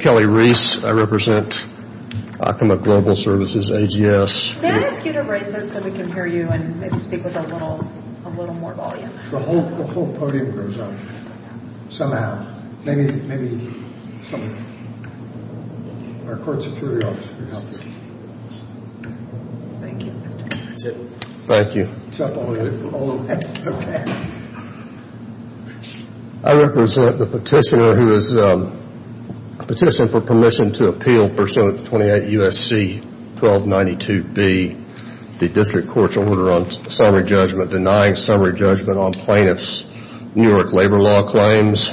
Kelly Reese I represent the petitioner who has petitioned for permission to appeal Persona 28 U.S.C. 1292B, the district court's order on summary judgment, denying summary judgment on plaintiffs' New York labor law claims.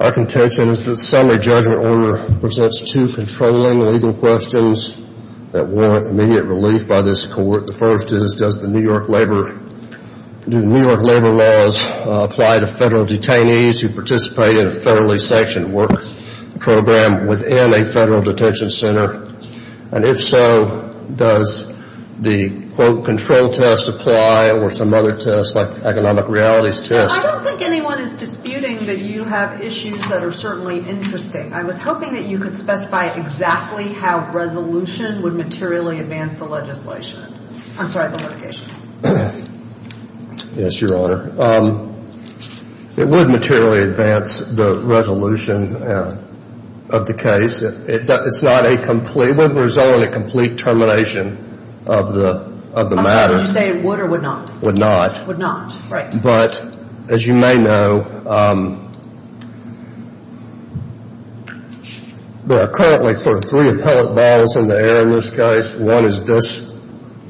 Our contention is that the summary judgment order presents two controlling legal questions that warrant immediate relief by this court. The first is does the New York labor laws apply to federal detainees who participate in a federally sanctioned work program within a federal detention center? And if so, does the quote control test apply to federal detainees who participate in a federally sanctioned work program? Would not. But as you may know, there are currently sort of three appellate battles in the air in this case. One is this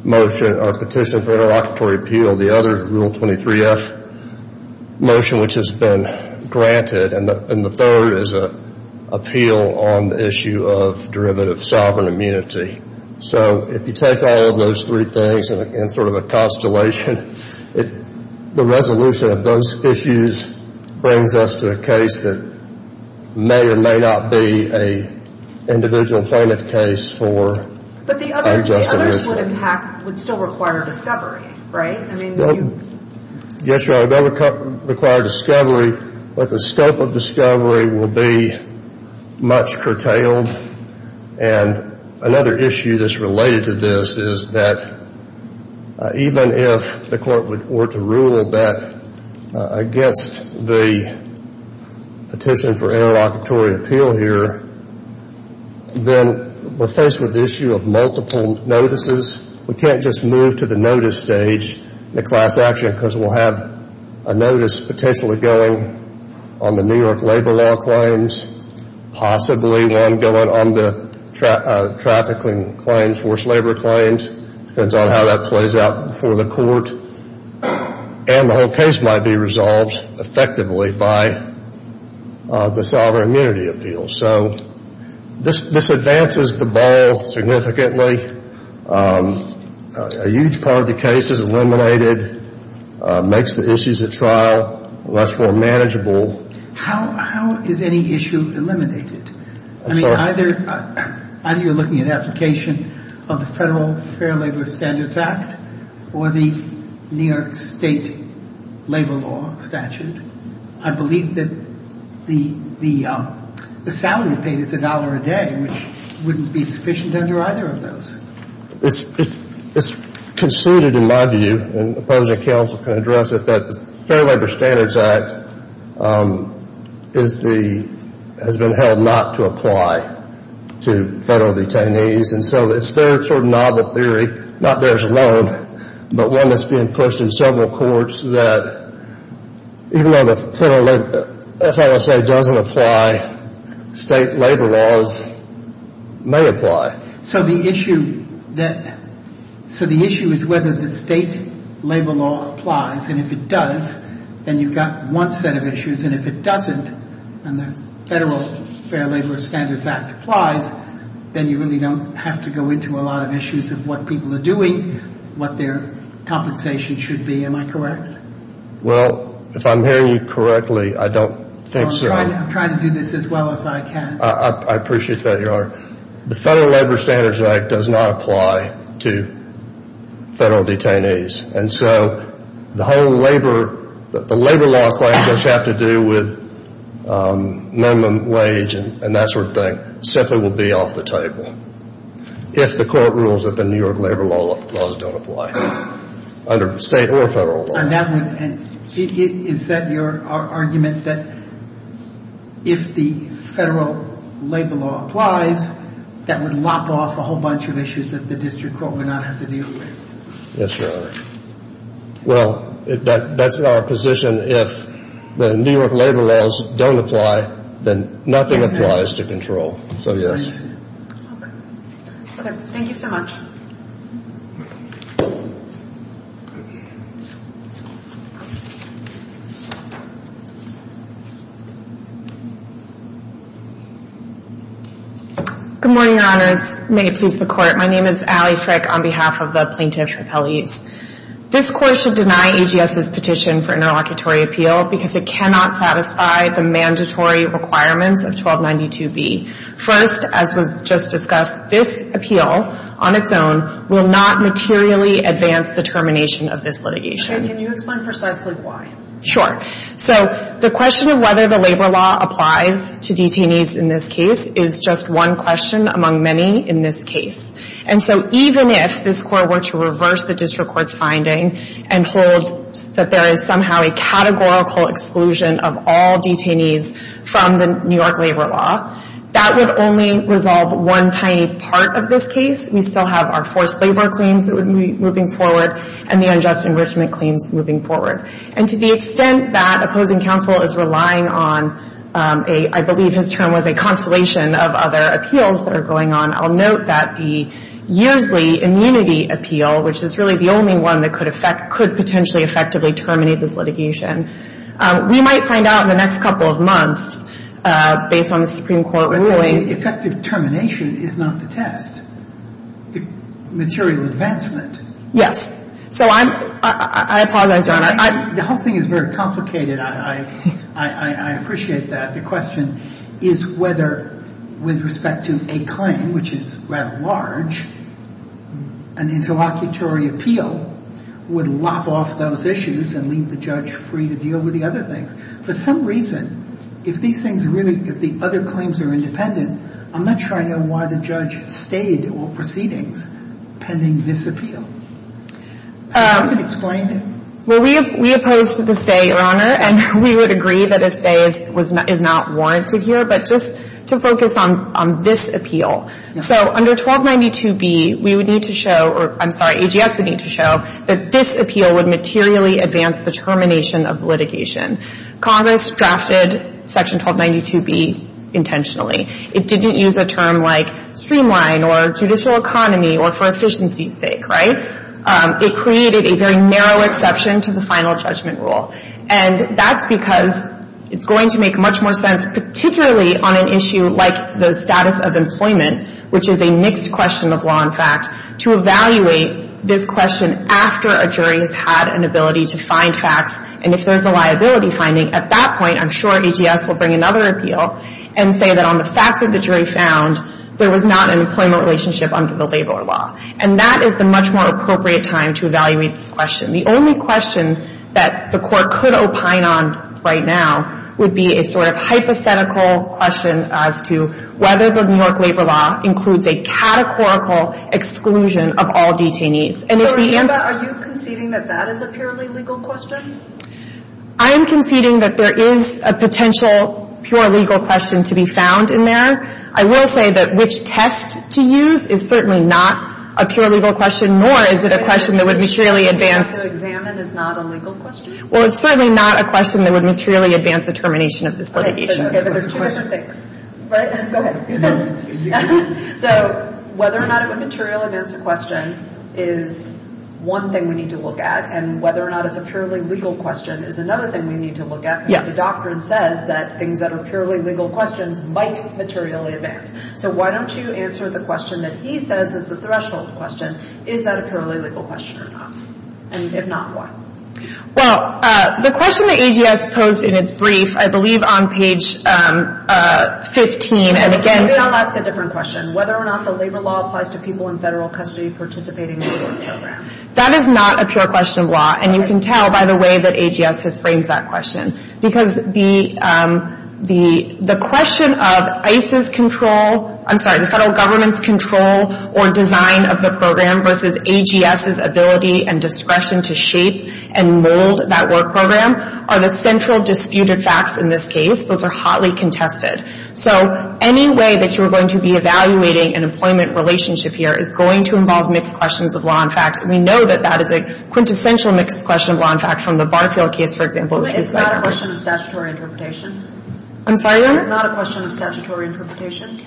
motion, our petition for interlocutory appeal. The other is Rule 23F motion, which has been granted. And the third is an appeal on the issue of discretion. The resolution of those issues brings us to a case that may or may not be an individual plaintiff case for unjust offense. But the others would still require discovery, right? Yes, Your Honor, they'll require discovery, but the scope of discovery will be much curtailed. And another issue that's related to this is that even if the court were to rule that against the petition for interlocutory appeal here, then we're faced with the issue of multiple notices. We can't just move to the notice stage, the class action, because we'll have a notice potentially going on the New York labor law claims, possibly one going on the trafficking claims, forced labor claims, depends on how that plays out before the court. And the whole case might be resolved effectively by the sovereign immunity appeal. So this advances the ball significantly. A huge part of the case is eliminated, makes the issues at trial much more manageable. How is any issue eliminated? I mean, either you're looking at application of the Federal Fair Labor Standards Act or the New York State labor law statute. I believe that the salary paid is a dollar a day, which wouldn't be sufficient under either of those. It's conceded, in my view, and the opposing counsel can address it, that the Fair Labor Standards Act has been held not to apply to federal detainees. And so it's their sort of novel theory, not theirs alone, but one that's being pushed in several courts that even though the FSA doesn't apply, state labor laws may apply. So the issue that – so the issue is whether the state labor law applies. And if it does, then you've got one set of issues. And if it doesn't, and the Federal Fair Labor Standards Act applies, then you really don't have to go into a lot of issues of what people are doing, what their compensation should be. Am I correct? Well, if I'm hearing you correctly, I don't think so. I'm trying to do this as well as I can. I appreciate that, Your Honor. The Federal Labor Standards Act does not apply to federal detainees. And so the whole labor – the labor law claim does have to do with minimum wage and that sort of thing. It simply will be off the table if the court rules that the New York labor laws don't apply under state or federal law. On that one, is that your argument, that if the federal labor law applies, that would lop off a whole bunch of issues that the district court would not have to deal with? Yes, Your Honor. Well, that's our position. If the New York labor laws don't apply, then nothing applies to control. So, yes. Okay. Thank you so much. Good morning, Your Honors. May it please the Court. My name is Allie Frick on behalf of the Plaintiff's Repellees. This Court should deny AGS's petition for interlocutory appeal because it cannot satisfy the mandatory requirements of 1292B. First, as was just discussed, this appeal on its own will not materially advance the termination of this litigation. Okay. Can you explain precisely why? Sure. So the question of whether the labor law applies to detainees in this case is just one question among many in this case. And so even if this Court were to reverse the case for court's finding and hold that there is somehow a categorical exclusion of all detainees from the New York labor law, that would only resolve one tiny part of this case. We still have our forced labor claims that would be moving forward and the unjust enrichment claims moving forward. And to the extent that opposing counsel is relying on a, I believe his term was a constellation of other appeals that are going on, I'll note that the Yearsley immunity appeal, which is really the only one that could affect, could potentially effectively terminate this litigation. We might find out in the next couple of months, based on the Supreme Court ruling. But effective termination is not the test. The material advancement. Yes. So I'm, I apologize, Your Honor. The whole thing is very complicated. I appreciate that. The question is whether, with respect to a claim, which is rather large, an interlocutory appeal would lop off those issues and leave the judge free to deal with the other things. For some reason, if these things are really, if the other claims are independent, I'm not sure I know why the judge stayed all proceedings pending this appeal. Can you explain? Well, we, we opposed to the stay, Your Honor. And we would agree that a stay is, is not warranted here. But just to focus on, on this appeal. So under 1292B, we would need to show, or I'm sorry, AGS would need to show that this appeal would materially advance the termination of litigation. Congress drafted Section 1292B intentionally. It didn't use a term like streamline or judicial economy or for efficiency's sake, right? It created a very narrow exception to the final judgment rule. And that's because it's going to make much more sense, particularly on an issue like the status of employment, which is a mixed question of law and fact, to evaluate this question after a jury has had an ability to find facts. And if there's a liability finding, at that point, I'm sure AGS will bring another appeal and say that on the facts that the jury found, there was not an employment relationship under the labor law. And that is the much more appropriate time to evaluate this question. The only question that the court could opine on right now would be a sort of hypothetical question as to whether the New York labor law includes a categorical exclusion of all detainees. And if we answer... So, Amber, are you conceding that that is a purely legal question? I am conceding that there is a potential pure legal question to be found in there. I will say that which test to use is certainly not a pure legal question, nor is it a question that would materially advance... Which test to examine is not a legal question? Well, it's certainly not a question that would materially advance the termination of this litigation. Okay, but there's two different things. Right? Go ahead. So, whether or not it would materially advance the question is one thing we need to look at. And whether or not it's a purely legal question is another thing we need to look at. Yes. Because the doctrine says that things that are purely legal questions might materially advance. So why don't you answer the question that he says is the threshold question. Is that a purely legal question or not? And if not, why? Well, the question that AGS posed in its brief, I believe on page 15, and again... Maybe I'll ask a different question. Whether or not the labor law applies to people in federal custody participating in the program? That is not a pure question of law. And you can tell by the way that AGS has framed that question. Because the question of ICE's control, I'm sorry, the federal government's control or design of the program versus AGS's ability and discretion to shape and mold that work program are the central disputed facts in this case. Those are hotly contested. So any way that you're going to be evaluating an employment relationship here is going to involve mixed questions of law and fact. And we know that that is a quintessential mixed question of law and fact from the Barfield case, for example, which we cited. It's not a question of statutory interpretation? I'm sorry, what? It's not a question of statutory interpretation?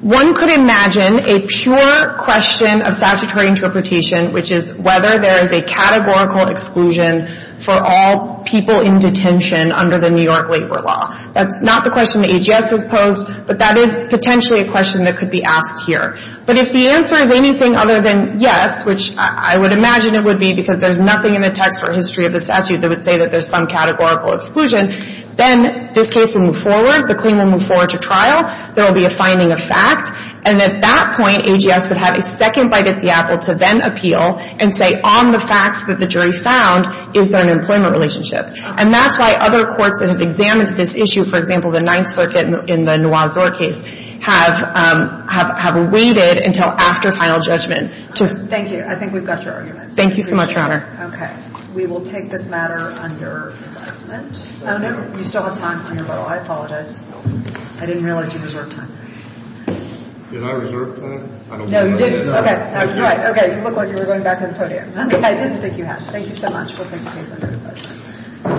One could imagine a pure question of statutory interpretation, which is whether there is a categorical exclusion for all people in detention under the New York labor law. That's not the question that AGS has posed, but that is potentially a question that could be asked here. But if the answer is anything other than yes, which I would imagine it would be because there's nothing in the text or history of the statute that would say that there's some categorical exclusion, then this case will move forward, the claim will move forward to trial, there will be a finding of fact, and at that point, AGS would have a second bite at the apple to then appeal and say, on the facts that the jury found, is there an employment relationship? And that's why other courts that have examined this issue, for example, the Ninth Circuit in the Noir-Zor case, have waited until after final judgment to... Thank you. I think we've got your argument. Thank you so much, Your Honor. Okay. We will take this matter under assessment. Oh, no. You still have time on your roll. I apologize. Thank you. I didn't realize you reserved time. Did I reserve time? No, you didn't. Okay. I'm sorry. Okay. You look like you were going back to the podium. I didn't think you had. Thank you so much. We'll take the case under assessment.